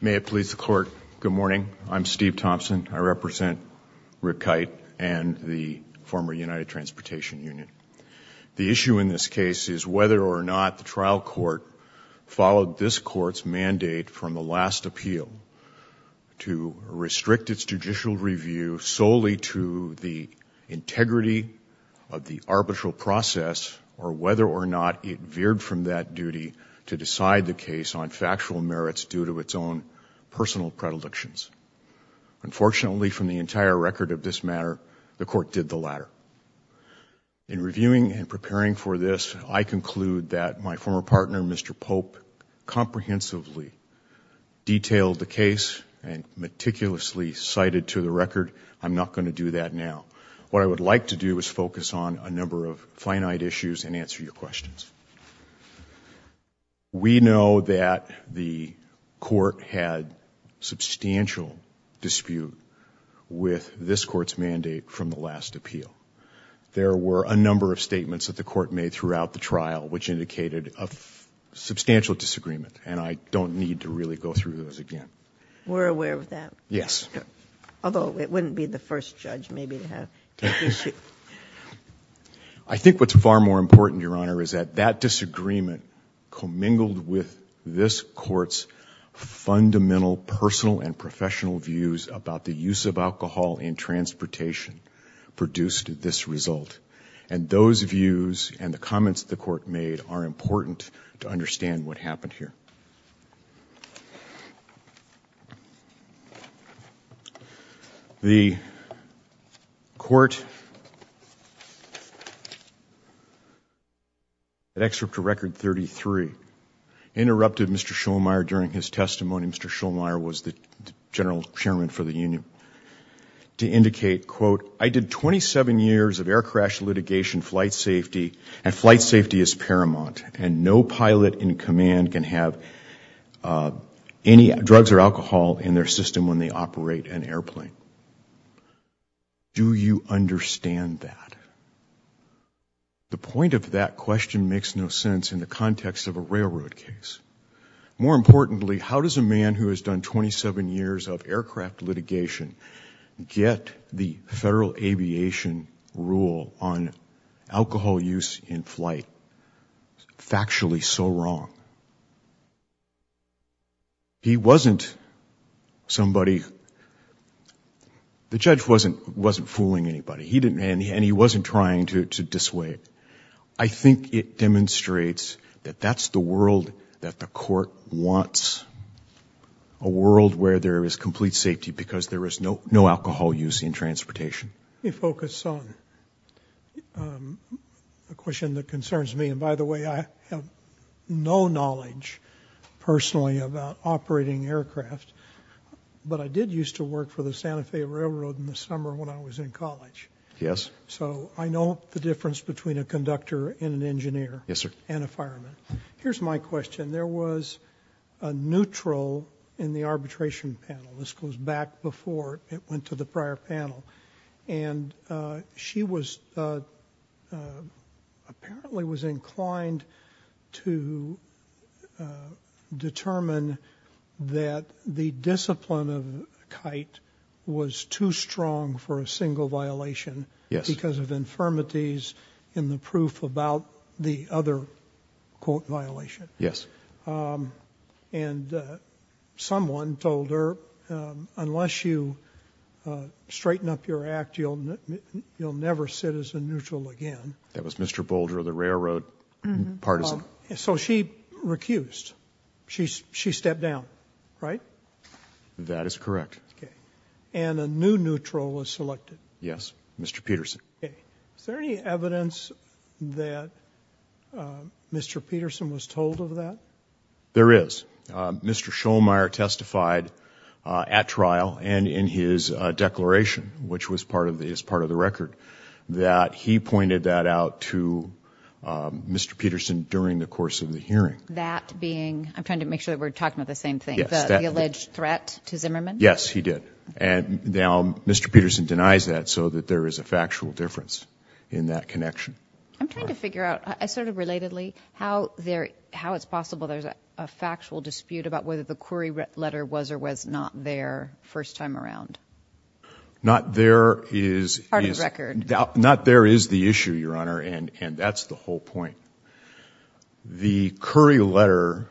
May it please the Court, good morning. I'm Steve Thompson. I represent Rick Kite and the former United Transportation Union. The issue in this case is whether or not the trial court followed this court's mandate from the last appeal to restrict its judicial review solely to the integrity of the arbitral process or whether or not it veered from that duty to decide the case on factual merits due to its own personal predilections. Unfortunately, from the entire record of this matter, the court did the latter. In reviewing and preparing for this, I conclude that my former partner, Mr. Pope, comprehensively detailed the case and meticulously cited to the record I'm not going to do that now. What I would like to do is focus on a number of finite issues and answer your questions. We know that the court had substantial dispute with this court's mandate from the last appeal. There were a number of statements that the court made throughout the trial which indicated a substantial disagreement and I don't need to really go through those again. We're aware of that. Yes. Although it wouldn't be the I think what's far more important, Your Honor, is that that disagreement commingled with this court's fundamental personal and professional views about the use of alcohol in transportation produced this result. And those views and the comments the court made are important to understand what happened here. The court, at Excerpt to Record 33, interrupted Mr. Schollmeyer during his testimony. Mr. Schollmeyer was the general chairman for the union, to indicate quote, I did 27 years of air crash litigation flight safety and flight have any drugs or alcohol in their system when they operate an airplane. Do you understand that? The point of that question makes no sense in the context of a railroad case. More importantly, how does a man who has done 27 years of aircraft litigation get the federal aviation rule on alcohol use in flight factually so wrong? He wasn't somebody, the judge wasn't wasn't fooling anybody. He didn't and he wasn't trying to dissuade. I think it demonstrates that that's the world that the court wants. A world where there is complete safety because there is no alcohol use in transportation. Let me focus on a question that I have no knowledge personally about operating aircraft but I did used to work for the Santa Fe Railroad in the summer when I was in college. Yes. So I know the difference between a conductor and an engineer. Yes sir. And a fireman. Here's my question. There was a neutral in the arbitration panel. This goes back before it went to the prior panel. And she was apparently was inclined to determine that the discipline of a kite was too strong for a single violation. Yes. Because of infirmities in the proof about the other quote violation. Yes. And someone told her unless you straighten up your act you'll you'll never sit as a neutral again. That was Mr. Boulder the railroad partisan. So she recused. She she stepped down. Right? That is correct. Okay. And a new neutral was selected. Yes. Mr. Peterson. Okay. Is there any evidence that Mr. Peterson was told of that? There is. Mr. Shulmire testified at trial and in his declaration which was part of the is part of the record that he pointed that out to Mr. Peterson during the course of the hearing. That being I'm trying to make sure that we're talking about the same thing. The alleged threat to Zimmerman. Yes he did. And now Mr. Peterson denies that so that there is a factual difference in that connection. I'm trying to figure out I sort of relatedly how there how it's possible there's a factual dispute about whether the query letter was or was not there first time around. Not there is not there is the issue Your Honor and and that's the whole point. The query letter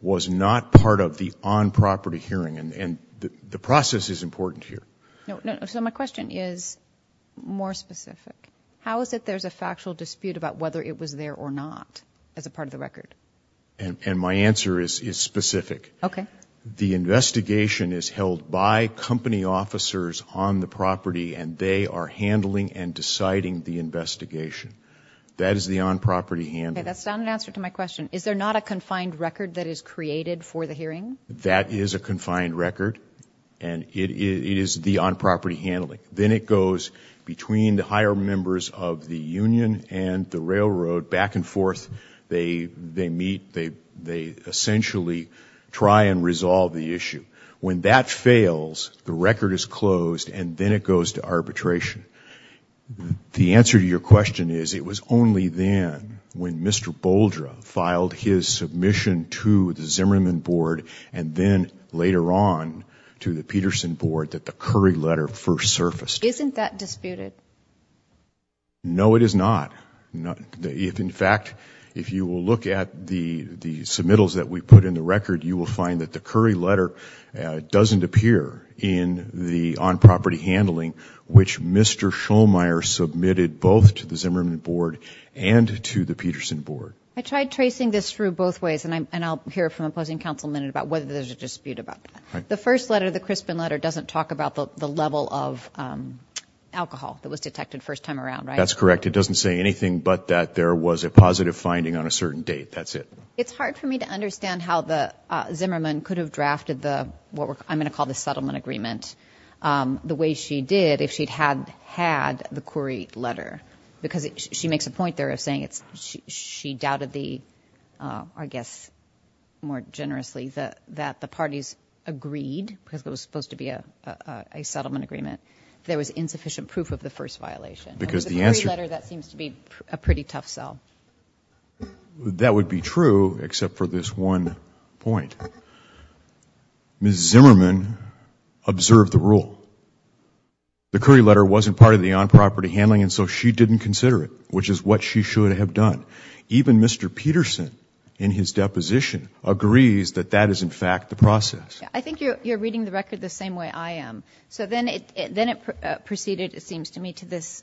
was not part of the on-property hearing and and the process is important here. So my question is more specific. How is it there's a factual dispute about whether it was there or not as a part of the and my answer is is specific. Okay. The investigation is held by company officers on the property and they are handling and deciding the investigation. That is the on-property handling. That's not an answer to my question. Is there not a confined record that is created for the hearing? That is a confined record and it is the on-property handling. Then it goes between the higher members of the Union and the railroad back and forth. They they meet they they essentially try and resolve the issue. When that fails the record is closed and then it goes to arbitration. The answer to your question is it was only then when Mr. Boldra filed his submission to the Zimmerman board and then later on to the Peterson board that the curry letter first surfaced. Isn't that disputed? No it is not. If in fact if you will look at the the submittals that we put in the record you will find that the curry letter doesn't appear in the on-property handling which Mr. Schollmeier submitted both to the Zimmerman board and to the Peterson board. I tried tracing this through both ways and I'm and I'll hear from opposing counsel minute about whether there's a dispute about that. The first letter the Crispin letter doesn't talk about the level of alcohol that was anything but that there was a positive finding on a certain date that's it. It's hard for me to understand how the Zimmerman could have drafted the what we're I'm gonna call the settlement agreement the way she did if she'd had had the query letter because she makes a point there of saying it's she doubted the I guess more generously that that the parties agreed because it was supposed to be a settlement agreement there was insufficient proof of the first violation because the answer letter that seems to be a pretty tough sell. That would be true except for this one point. Ms. Zimmerman observed the rule. The curry letter wasn't part of the on-property handling and so she didn't consider it which is what she should have done. Even Mr. Peterson in his deposition agrees that that is in fact the process. I think you're reading the to this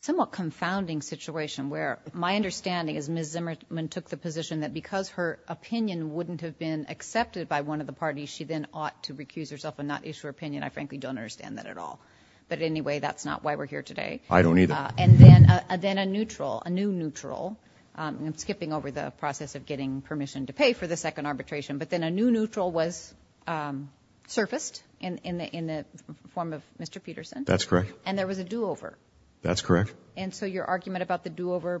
somewhat confounding situation where my understanding is Ms. Zimmerman took the position that because her opinion wouldn't have been accepted by one of the parties she then ought to recuse herself and not issue her opinion. I frankly don't understand that at all but anyway that's not why we're here today. I don't either. And then a then a neutral a new neutral I'm skipping over the process of getting permission to pay for the second arbitration but then a new neutral was surfaced in in the in the form of Mr. Peterson. That's correct. And there was a do-over. That's correct. And so your argument about the do-over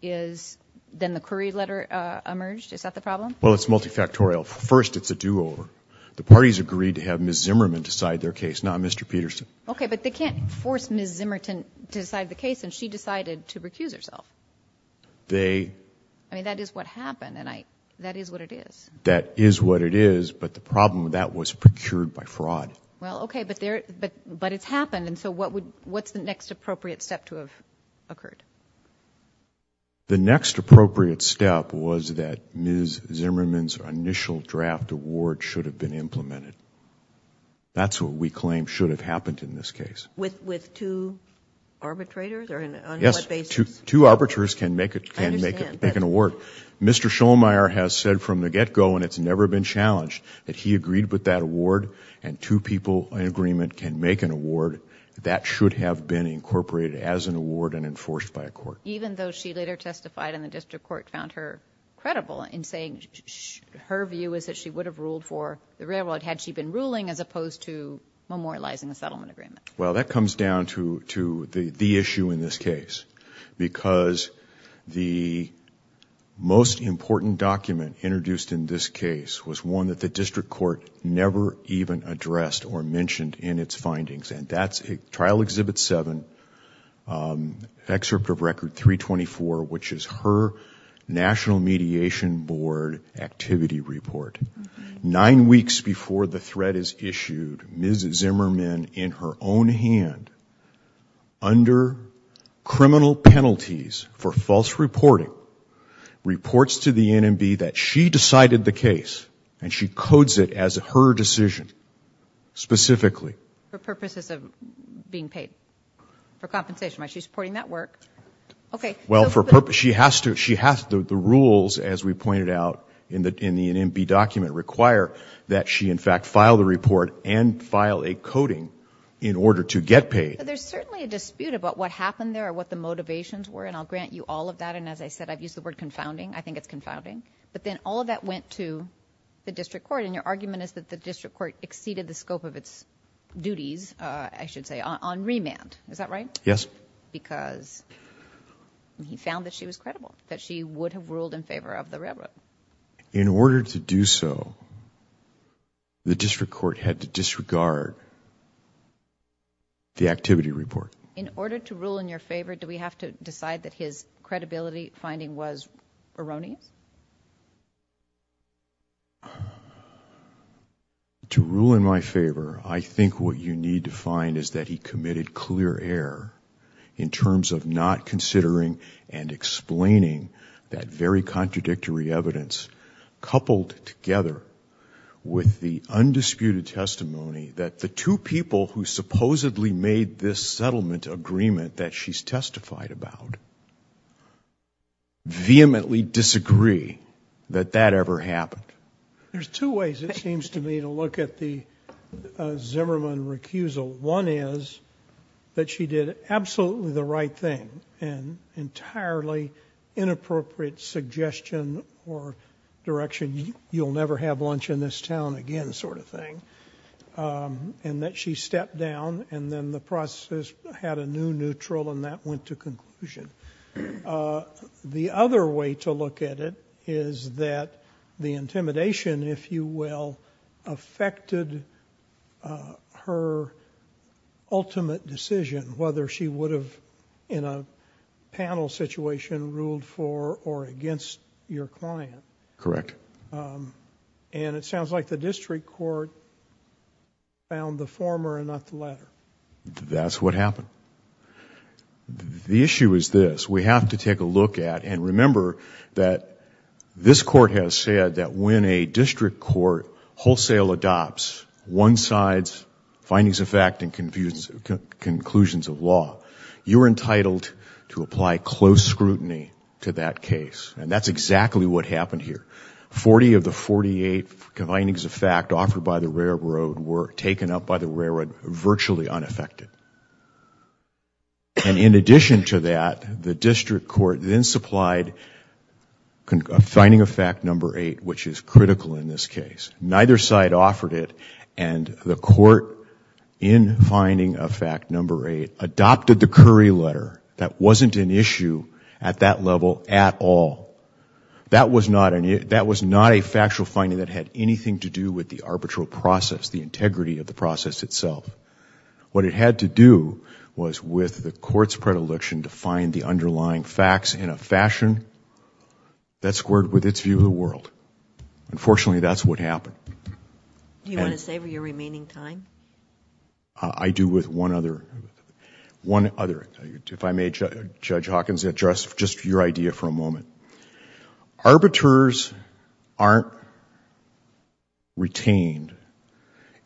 is then the curry letter emerged is that the problem? Well it's multifactorial. First it's a do-over. The parties agreed to have Ms. Zimmerman decide their case not Mr. Peterson. Okay but they can't force Ms. Zimmerton to decide the case and she decided to recuse herself. They I mean that is what happened and I that is what it is. That is what it is but the problem that was procured by fraud. Well okay but there but but it's happened and so what would what's the next appropriate step to have occurred? The next appropriate step was that Ms. Zimmerman's initial draft award should have been implemented. That's what we claim should have happened in this case. With with two arbitrators? Yes two arbiters can make it can make it make an award. Mr. Schollmeyer has said from the get-go and it's never been challenged that he agreed with that award and two people in agreement can make an award that should have been incorporated as an award and enforced by a court. Even though she later testified in the district court found her credible in saying her view is that she would have ruled for the railroad had she been ruling as opposed to memorializing a settlement agreement. Well that comes down to to the the issue in this case because the most important document introduced in this case was one that the district court never even addressed or mentioned in its findings and that's a trial exhibit 7 excerpt of record 324 which is her national mediation board activity report. Nine weeks before the threat is issued, Ms. Zimmerman in her own hand under criminal penalties for false reporting reports to the NMB that she decided the case and she codes it as her decision specifically. For purposes of being paid for compensation. She's supporting that work. Okay well for purpose she has to she has the rules as we pointed out in the in the NMB document require that she in fact file the report and file a coding in order to get paid. There's certainly a dispute about what happened there or what the motivations were and I'll grant you all of that and as I said I've used the word confounding I think it's confounding but then all of that went to the district court and your argument is that the district court exceeded the scope of its duties I should say on remand is that right? Yes. Because he found that she was to do so the district court had to disregard the activity report. In order to rule in your favor do we have to decide that his credibility finding was erroneous? To rule in my favor I think what you need to find is that he committed clear error in terms of not considering and explaining that very contradictory evidence coupled together with the undisputed testimony that the two people who supposedly made this settlement agreement that she's testified about vehemently disagree that that ever happened. There's two ways it seems to me to look at the Zimmerman recusal. One is that she did absolutely the right thing and entirely inappropriate suggestion or direction you'll never have lunch in this town again sort of thing and that she stepped down and then the process had a new neutral and that went to conclusion. The other way to look at it is that the intimidation if you will affected her ultimate decision whether she would have in a panel situation ruled for or against your client. Correct. And it sounds like the district court found the former and not the latter. That's what happened. The issue is this we have to take a look at and remember that this court has said that when a district court wholesale adopts one side's findings of fact and conclusions of law you're entitled to apply close scrutiny to that case and that's exactly what happened here. 40 of the 48 findings of fact offered by the railroad were taken up by the railroad virtually unaffected and in addition to that the district court then supplied finding of fact number 8 which is critical in this case. Neither side offered it and the court in finding of fact number 8 adopted the Curry letter that wasn't an issue at that level at all. That was not a factual finding that had anything to do with the arbitral process, the integrity of the process itself. What it had to do was with the court's predilection to find the underlying facts in a fashion that squared with its view of the world. Unfortunately, that's what happened. Do you want to save your remaining time? I do with one other, one other, if I may Judge Hawkins address just your idea for a moment. Arbiters aren't retained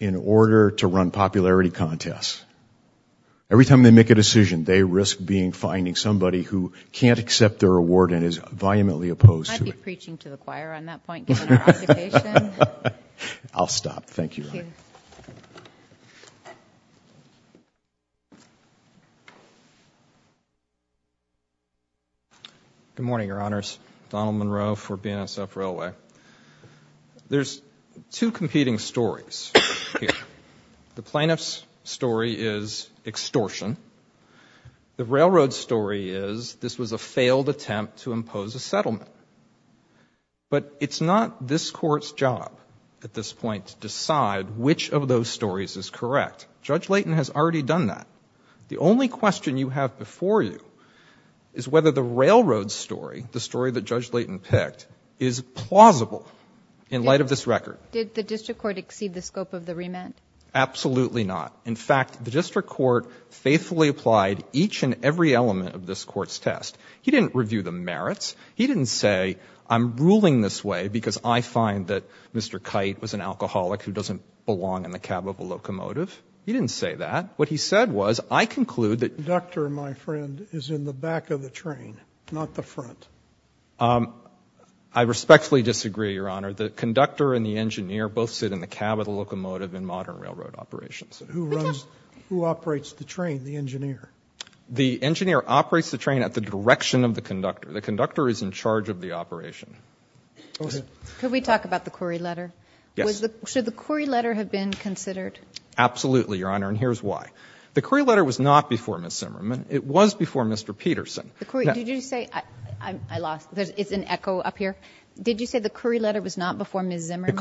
in order to run popularity contests. Every time they make a decision they risk being finding somebody who can't accept their award and is vehemently opposed to it. I'll stop, thank you. Good morning, your honors. Donald Monroe for BNSF Railway. There's two competing stories here. The plaintiff's story is extortion. The railroad story is this was a failed attempt to impose a settlement. But it's not this court's job at this point to decide which of those stories is correct. Judge Layton has already done that. The only question you have before you is whether the railroad story, the story that Judge Layton picked, is plausible in light of this record. Did the district court exceed the scope of the remand? Absolutely not. In fact, the district court faithfully applied each and every element of this court's test. He didn't review the merits. He didn't say I'm ruling this way because I find that Mr. Kite was an alcoholic who doesn't belong in the cab of a locomotive. He didn't say that. What he said was I conclude that... The conductor, my friend, is in the back of the train, not the front. I respectfully disagree, your honor. The conductor should sit in the cab of the locomotive in modern railroad operations. Who runs, who operates the train, the engineer? The engineer operates the train at the direction of the conductor. The conductor is in charge of the operation. Could we talk about the Curry letter? Yes. Should the Curry letter have been considered? Absolutely, your honor, and here's why. The Curry letter was not before Ms. Zimmerman. It was before Mr. Peterson. Did you say, I lost, it's an echo up here. Did you say the letter was not before Ms. Zimmerman?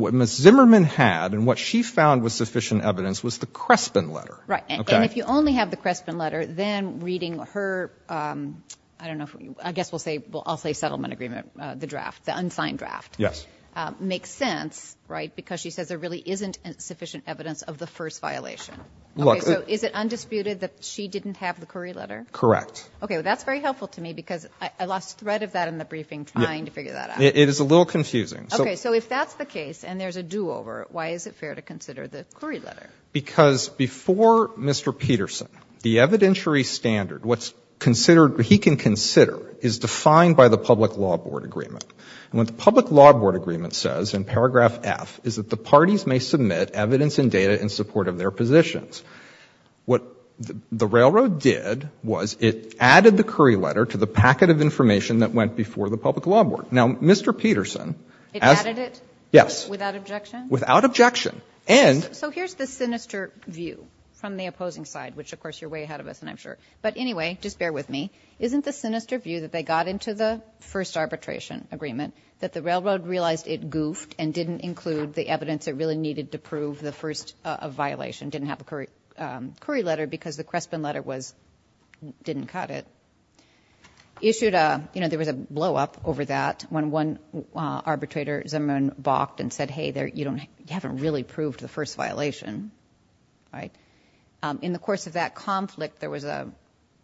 What Ms. Zimmerman had and what she found was sufficient evidence was the Crespin letter. Right, and if you only have the Crespin letter, then reading her, I don't know, I guess we'll say, I'll say settlement agreement, the draft, the unsigned draft. Yes. Makes sense, right, because she says there really isn't sufficient evidence of the first violation. Okay, so is it undisputed that she didn't have the Curry letter? Correct. Okay, well that's very helpful to me because I lost thread of that in the briefing trying to figure that out. It is a little confusing. Okay, so if that's the case and there's a do-over, why is it fair to consider the Curry letter? Because before Mr. Peterson, the evidentiary standard, what's considered, what he can consider is defined by the public law board agreement. And what the public law board agreement says in paragraph F is that the parties may submit evidence and data in support of their positions. What the railroad did was it added the Curry letter to the packet of information that went before the public law board. Now, Mr. Peterson. It added it? Yes. Without objection? Without objection. And. So here's the sinister view from the opposing side, which, of course, you're way ahead of us, and I'm sure. But anyway, just bear with me. Isn't the sinister view that they got into the first arbitration agreement that the railroad realized it goofed and didn't include the evidence it really needed to prove the first violation, didn't have a Curry letter because the Crespin letter was, didn't cut it, issued a, you know, there was a blow up over that when one arbitrator, Zimmerman, balked and said, hey, there, you don't, you haven't really proved the first violation. Right. In the course of that conflict, there was a,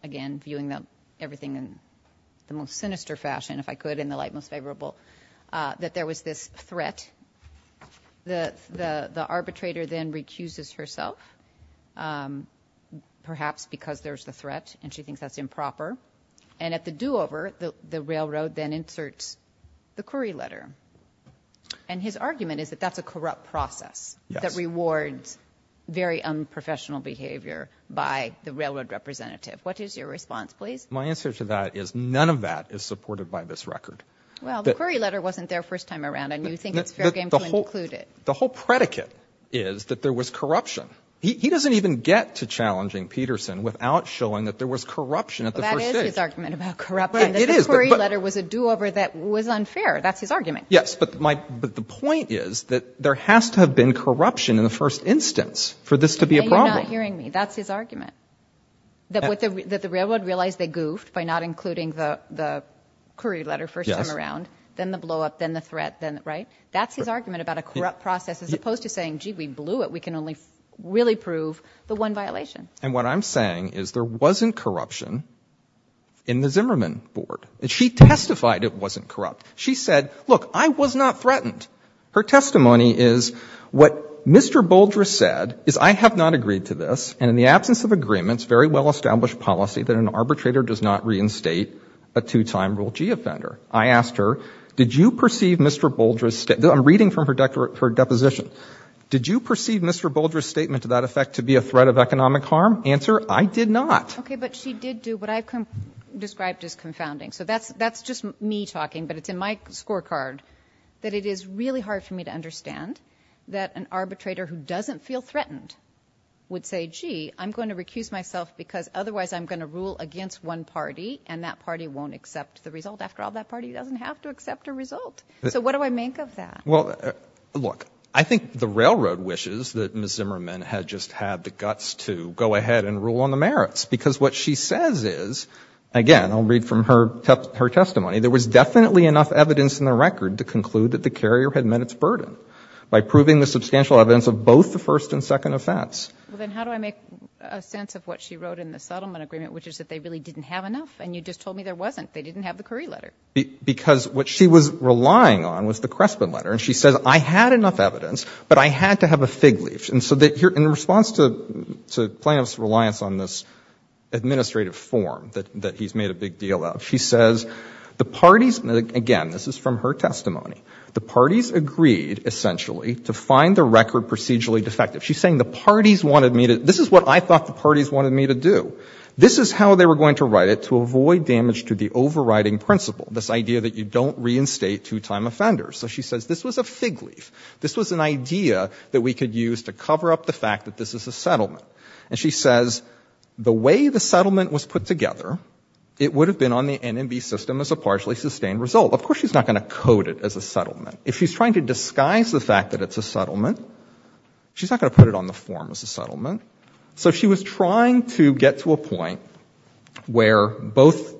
again, viewing everything in the most sinister fashion, if I could, in the light most favorable, that there was this threat that the arbitrator then recuses herself, perhaps because there's the threat and she thinks that's improper. And at the do over the railroad then inserts the Curry letter. And his argument is that that's a corrupt process that rewards very unprofessional behavior by the railroad representative. What is your response, please? My answer to that is none of that is supported by this record. Well, the Curry letter wasn't there first time around, and you think it's fair game to include it. The whole predicate is that there was corruption. He doesn't even get to challenging Peterson without showing that there was corruption at the first argument about corrupt letter was a do over. That was unfair. That's his argument. Yes. But my but the point is that there has to have been corruption in the first instance for this to be a problem. Hearing me, that's his argument about a corrupt process, as opposed to saying, gee, we blew it. We can only really prove the one violation. And what I'm saying is there wasn't corruption in the Zimmerman board. She testified it wasn't corrupt. She said, look, I was not threatened. Her testimony is what Mr. Bolger said is I have not agreed to this. And in the absence of agreements, very well established policy that an arbitrator does not reinstate a two time rule. Gee, offender. I asked her, did you perceive Mr. Bolger's? I'm reading from her deposition. Did you perceive Mr. Bolger's statement to that effect to be a threat of economic harm? Answer. I did not. OK, but she did do what I described as confounding. So that's that's just me talking, but it's in my scorecard that it is really hard for me to understand that an arbitrator who rule against one party and that party won't accept the result. After all, that party doesn't have to accept a result. So what do I make of that? Well, look, I think the railroad wishes that Ms. Zimmerman had just had the guts to go ahead and rule on the merits, because what she says is, again, I'll read from her testimony. There was definitely enough evidence in the record to conclude that the carrier had met its burden by proving the substantial evidence of both the first and second offense. Well, then how do I make a sense of what she said about the settlement agreement, which is that they really didn't have enough? And you just told me there wasn't. They didn't have the Curry letter. Because what she was relying on was the Crespin letter. And she says, I had enough evidence, but I had to have a fig leaf. And so that here in response to to plaintiff's reliance on this administrative form that that he's made a big deal of, she says the parties. Again, this is from her testimony. The parties agreed essentially to find the record procedurally defective. She's saying the parties wanted me to, this is what I thought the parties wanted me to do. This is how they were going to write it, to avoid damage to the overriding principle, this idea that you don't reinstate two-time offenders. So she says this was a fig leaf. This was an idea that we could use to cover up the fact that this is a settlement. And she says the way the settlement was put together, it would have been on the NMB system as a partially sustained result. Of course she's not going to code it as a settlement. If she's trying to disguise the fact that it's a settlement, she's not going to put it on the form as a settlement. So she was trying to get to a point where both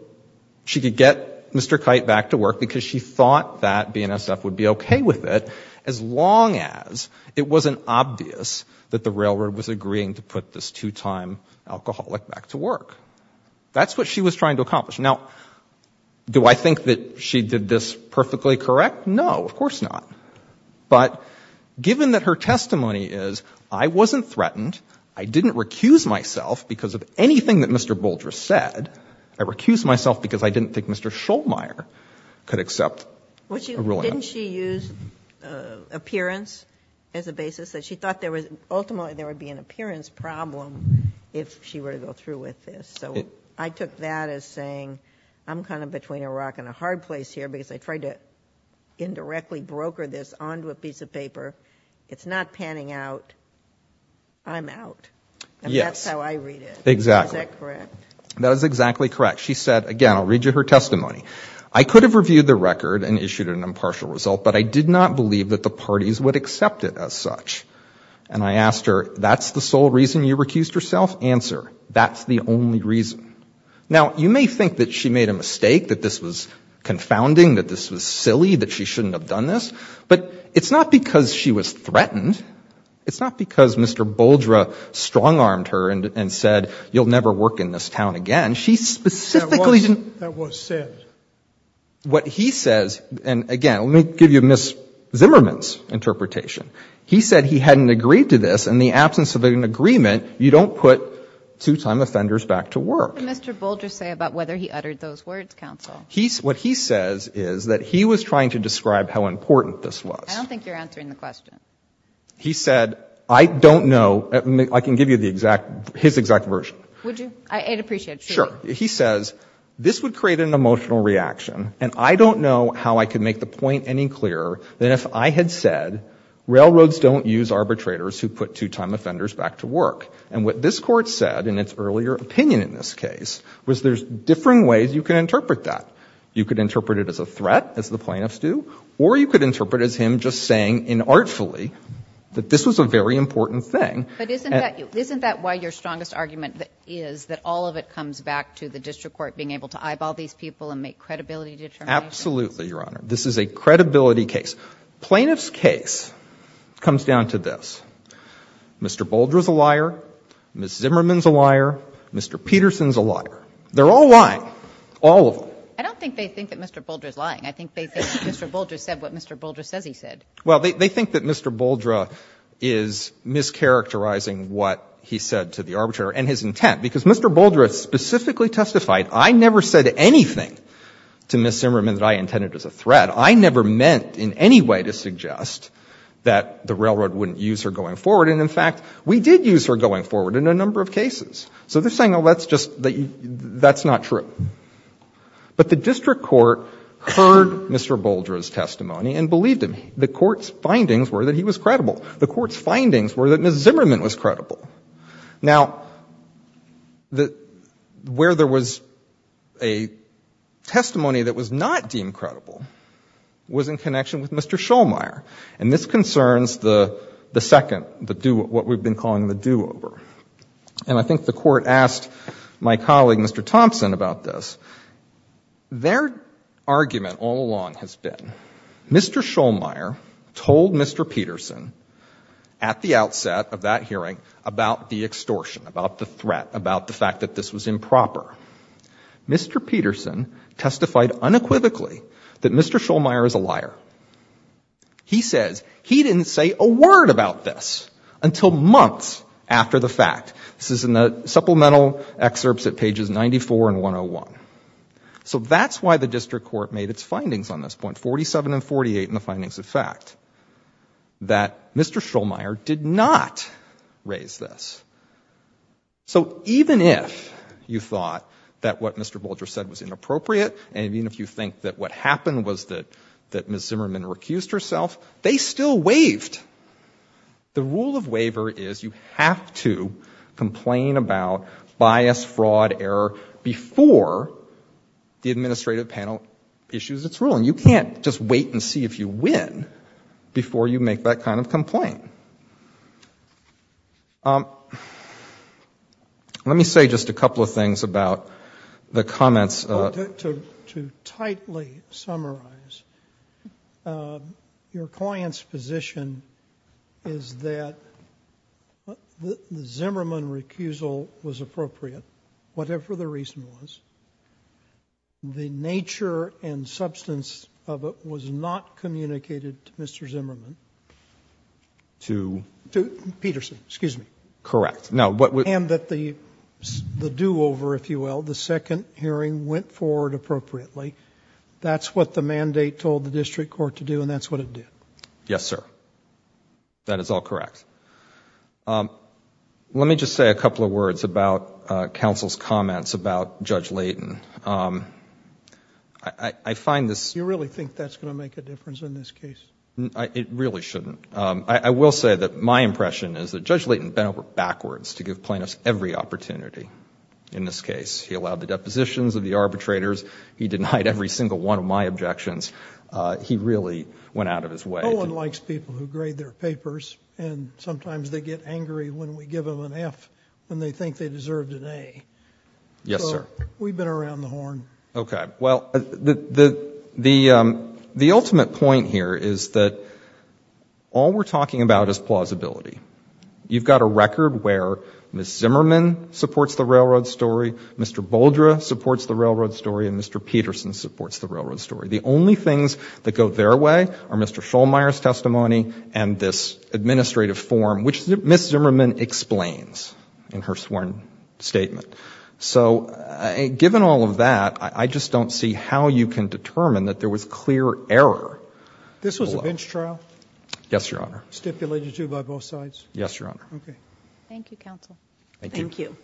she could get Mr. Kite back to work because she thought that BNSF would be okay with it, as long as it wasn't obvious that the railroad was agreeing to put this two-time alcoholic back to work. That's what she was trying to accomplish. Now, do I think that she did this perfectly correct? No, of course not. But given that her testimony is, I wasn't threatened, I didn't recuse myself because of anything that Mr. Bouldress said, I recused myself because I didn't think Mr. Schollmeyer could accept a ruling on it. Didn't she use appearance as a basis? She thought ultimately there would be an appearance problem if she were to go through with this. So I took that as saying, I'm kind of between a rock and a hard place here because I tried to indirectly broker this onto a piece of paper. It's not panning out. I'm out. And that's how I read it. Is that correct? Yes, exactly. That is exactly correct. She said, again, I'll read you her testimony. I could have reviewed the record and issued an impartial result, but I did not believe that the parties would accept it as such. And I asked her, that's the sole reason you recused yourself? Answer, that's the only reason. Now, you may think that she made a mistake, that this was confounding, that this was silly, that she shouldn't have done this. But it's not because she was threatened. It's not because Mr. Bouldress strong-armed her and said, you'll never work in this town again. She specifically didn't. That was said. But what he says, and again, let me give you Ms. Zimmerman's interpretation. He said he hadn't agreed to this. In the absence of an agreement, you don't put two-time offenders back to work. What did Mr. Bouldress say about whether he uttered those words, counsel? What he says is that he was trying to describe how important this was. I don't think you're answering the question. He said, I don't know. I can give you the exact, his exact version. Would you? I'd appreciate it. Sure. He says, this would create an emotional reaction. And I don't know how I could make the point any clearer than if I had said, railroads don't use arbitrators who put two-time offenders back to work. And what this Court said in its earlier opinion in this case was there's differing ways you can interpret that. You could interpret it as a threat, as the plaintiffs do, or you could interpret it as him just saying inartfully that this was a very important thing. But isn't that why your strongest argument is that all of it comes back to the district court being able to eyeball these people and make credibility determinations? Absolutely, Your Honor. This is a credibility case. Plaintiff's case comes down to this. Mr. Bouldress is a liar. Ms. Zimmerman is a liar. Mr. Peterson is a liar. They're all lying. All of them. I don't think they think that Mr. Bouldress is lying. I think they think Mr. Bouldress said what Mr. Bouldress says he said. Well, they think that Mr. Bouldress is mischaracterizing what he said to the arbitrator and his intent. Because Mr. Bouldress specifically testified, I never said anything to Ms. Zimmerman that I intended as a threat. I never meant in any way to suggest that the railroad wouldn't use her going forward. And, in fact, we did use her going forward in a number of cases. So they're saying, oh, that's just, that's not true. But the district court heard Mr. Bouldress' testimony and believed him. The court's findings were that he was credible. The court's findings were that Ms. Zimmerman was credible. Now, where there was a testimony that was not deemed credible was in connection with Mr. Schollmeyer. And this concerns the second, what we've been calling the their argument all along has been Mr. Schollmeyer told Mr. Peterson at the outset of that hearing about the extortion, about the threat, about the fact that this was improper. Mr. Peterson testified unequivocally that Mr. Schollmeyer is a liar. He says he didn't say a word about this until months after the fact. This is in the So that's why the district court made its findings on this point, 47 and 48 in the findings of fact, that Mr. Schollmeyer did not raise this. So even if you thought that what Mr. Bouldress said was inappropriate, and even if you think that what happened was that Ms. Zimmerman recused herself, they still waived. The rule of the administrative panel issues its rule. And you can't just wait and see if you win before you make that kind of complaint. Let me say just a couple of things about the comments. To tightly summarize, your client's position is that the Zimmerman recusal was the nature and substance of it was not communicated to Mr. Zimmerman, to Peterson, excuse me, and that the do-over, if you will, the second hearing went forward appropriately. That's what the mandate told the district court to do, and that's what it did. Yes, sir. That is all correct. Let me just say a couple of words about counsel's comments about Judge Layton. I find this... Do you really think that's going to make a difference in this case? It really shouldn't. I will say that my impression is that Judge Layton bent over backwards to give plaintiffs every opportunity in this case. He allowed the depositions of the arbitrators. He denied every single one of my objections. He really went out of his way. No one likes people who grade their papers, and sometimes they get angry when we Yes, sir. We've been around the horn. Okay. Well, the ultimate point here is that all we're talking about is plausibility. You've got a record where Ms. Zimmerman supports the railroad story, Mr. Boldre supports the railroad story, and Mr. Peterson supports the railroad story. The only things that go their way are Mr. Schollmeier's testimony and this So, given all of that, I just don't see how you can determine that there was clear error. This was a bench trial? Yes, Your Honor. Stipulated, too, by both sides? Yes, Your Honor. Okay. Thank you, counsel. Thank you.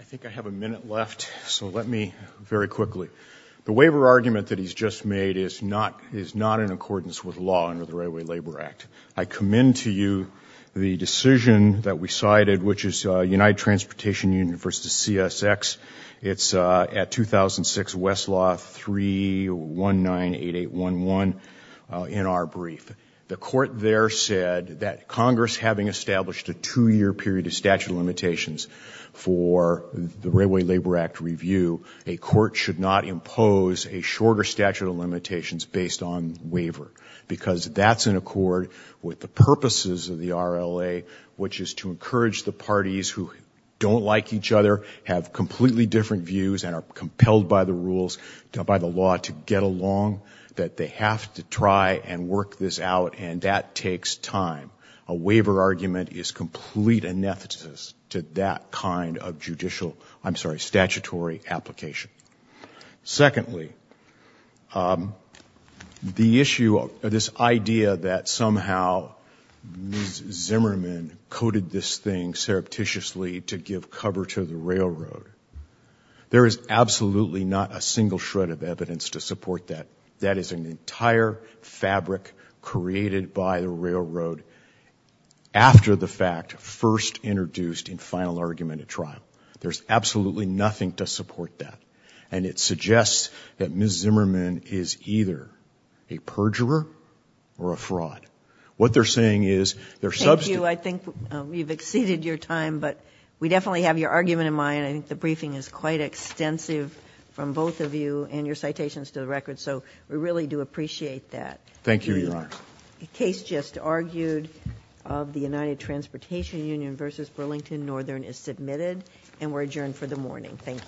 I think I have a minute left, so let me, very quickly. The waiver argument that he's just made is not in accordance with law under the Railway Labor Act. I commend to you the decision that we cited, which is United Transportation Union versus CSX. It's at 2006 Westlaw 3198811 in our brief. The court there said that Congress, having established a two-year period of statute of limitations for the Railway Labor Act review, a court should not impose a shorter statute of the RLA, which is to encourage the parties who don't like each other, have completely different views, and are compelled by the rules, by the law, to get along, that they have to try and work this out, and that takes time. A waiver argument is complete inefficacy to that kind of judicial, I'm sorry, statutory application. Secondly, the issue of this idea that somehow Ms. Zimmerman coded this thing surreptitiously to give cover to the railroad, there is absolutely not a single shred of evidence to support that. That is an entire fabric created by the railroad after the fact, first introduced in final argument at trial. There's absolutely nothing to support that, and it suggests that Ms. Zimmerman is either a perjurer or a fraud. What they're saying is they're substituting Thank you. I think we've exceeded your time, but we definitely have your argument in mind. I think the briefing is quite extensive from both of you and your citations to the record, so we really do appreciate that. Thank you, Your Honor. A case just argued of the United Transportation Union versus Burlington Northern is submitted, and we're adjourned for the morning. Thank you.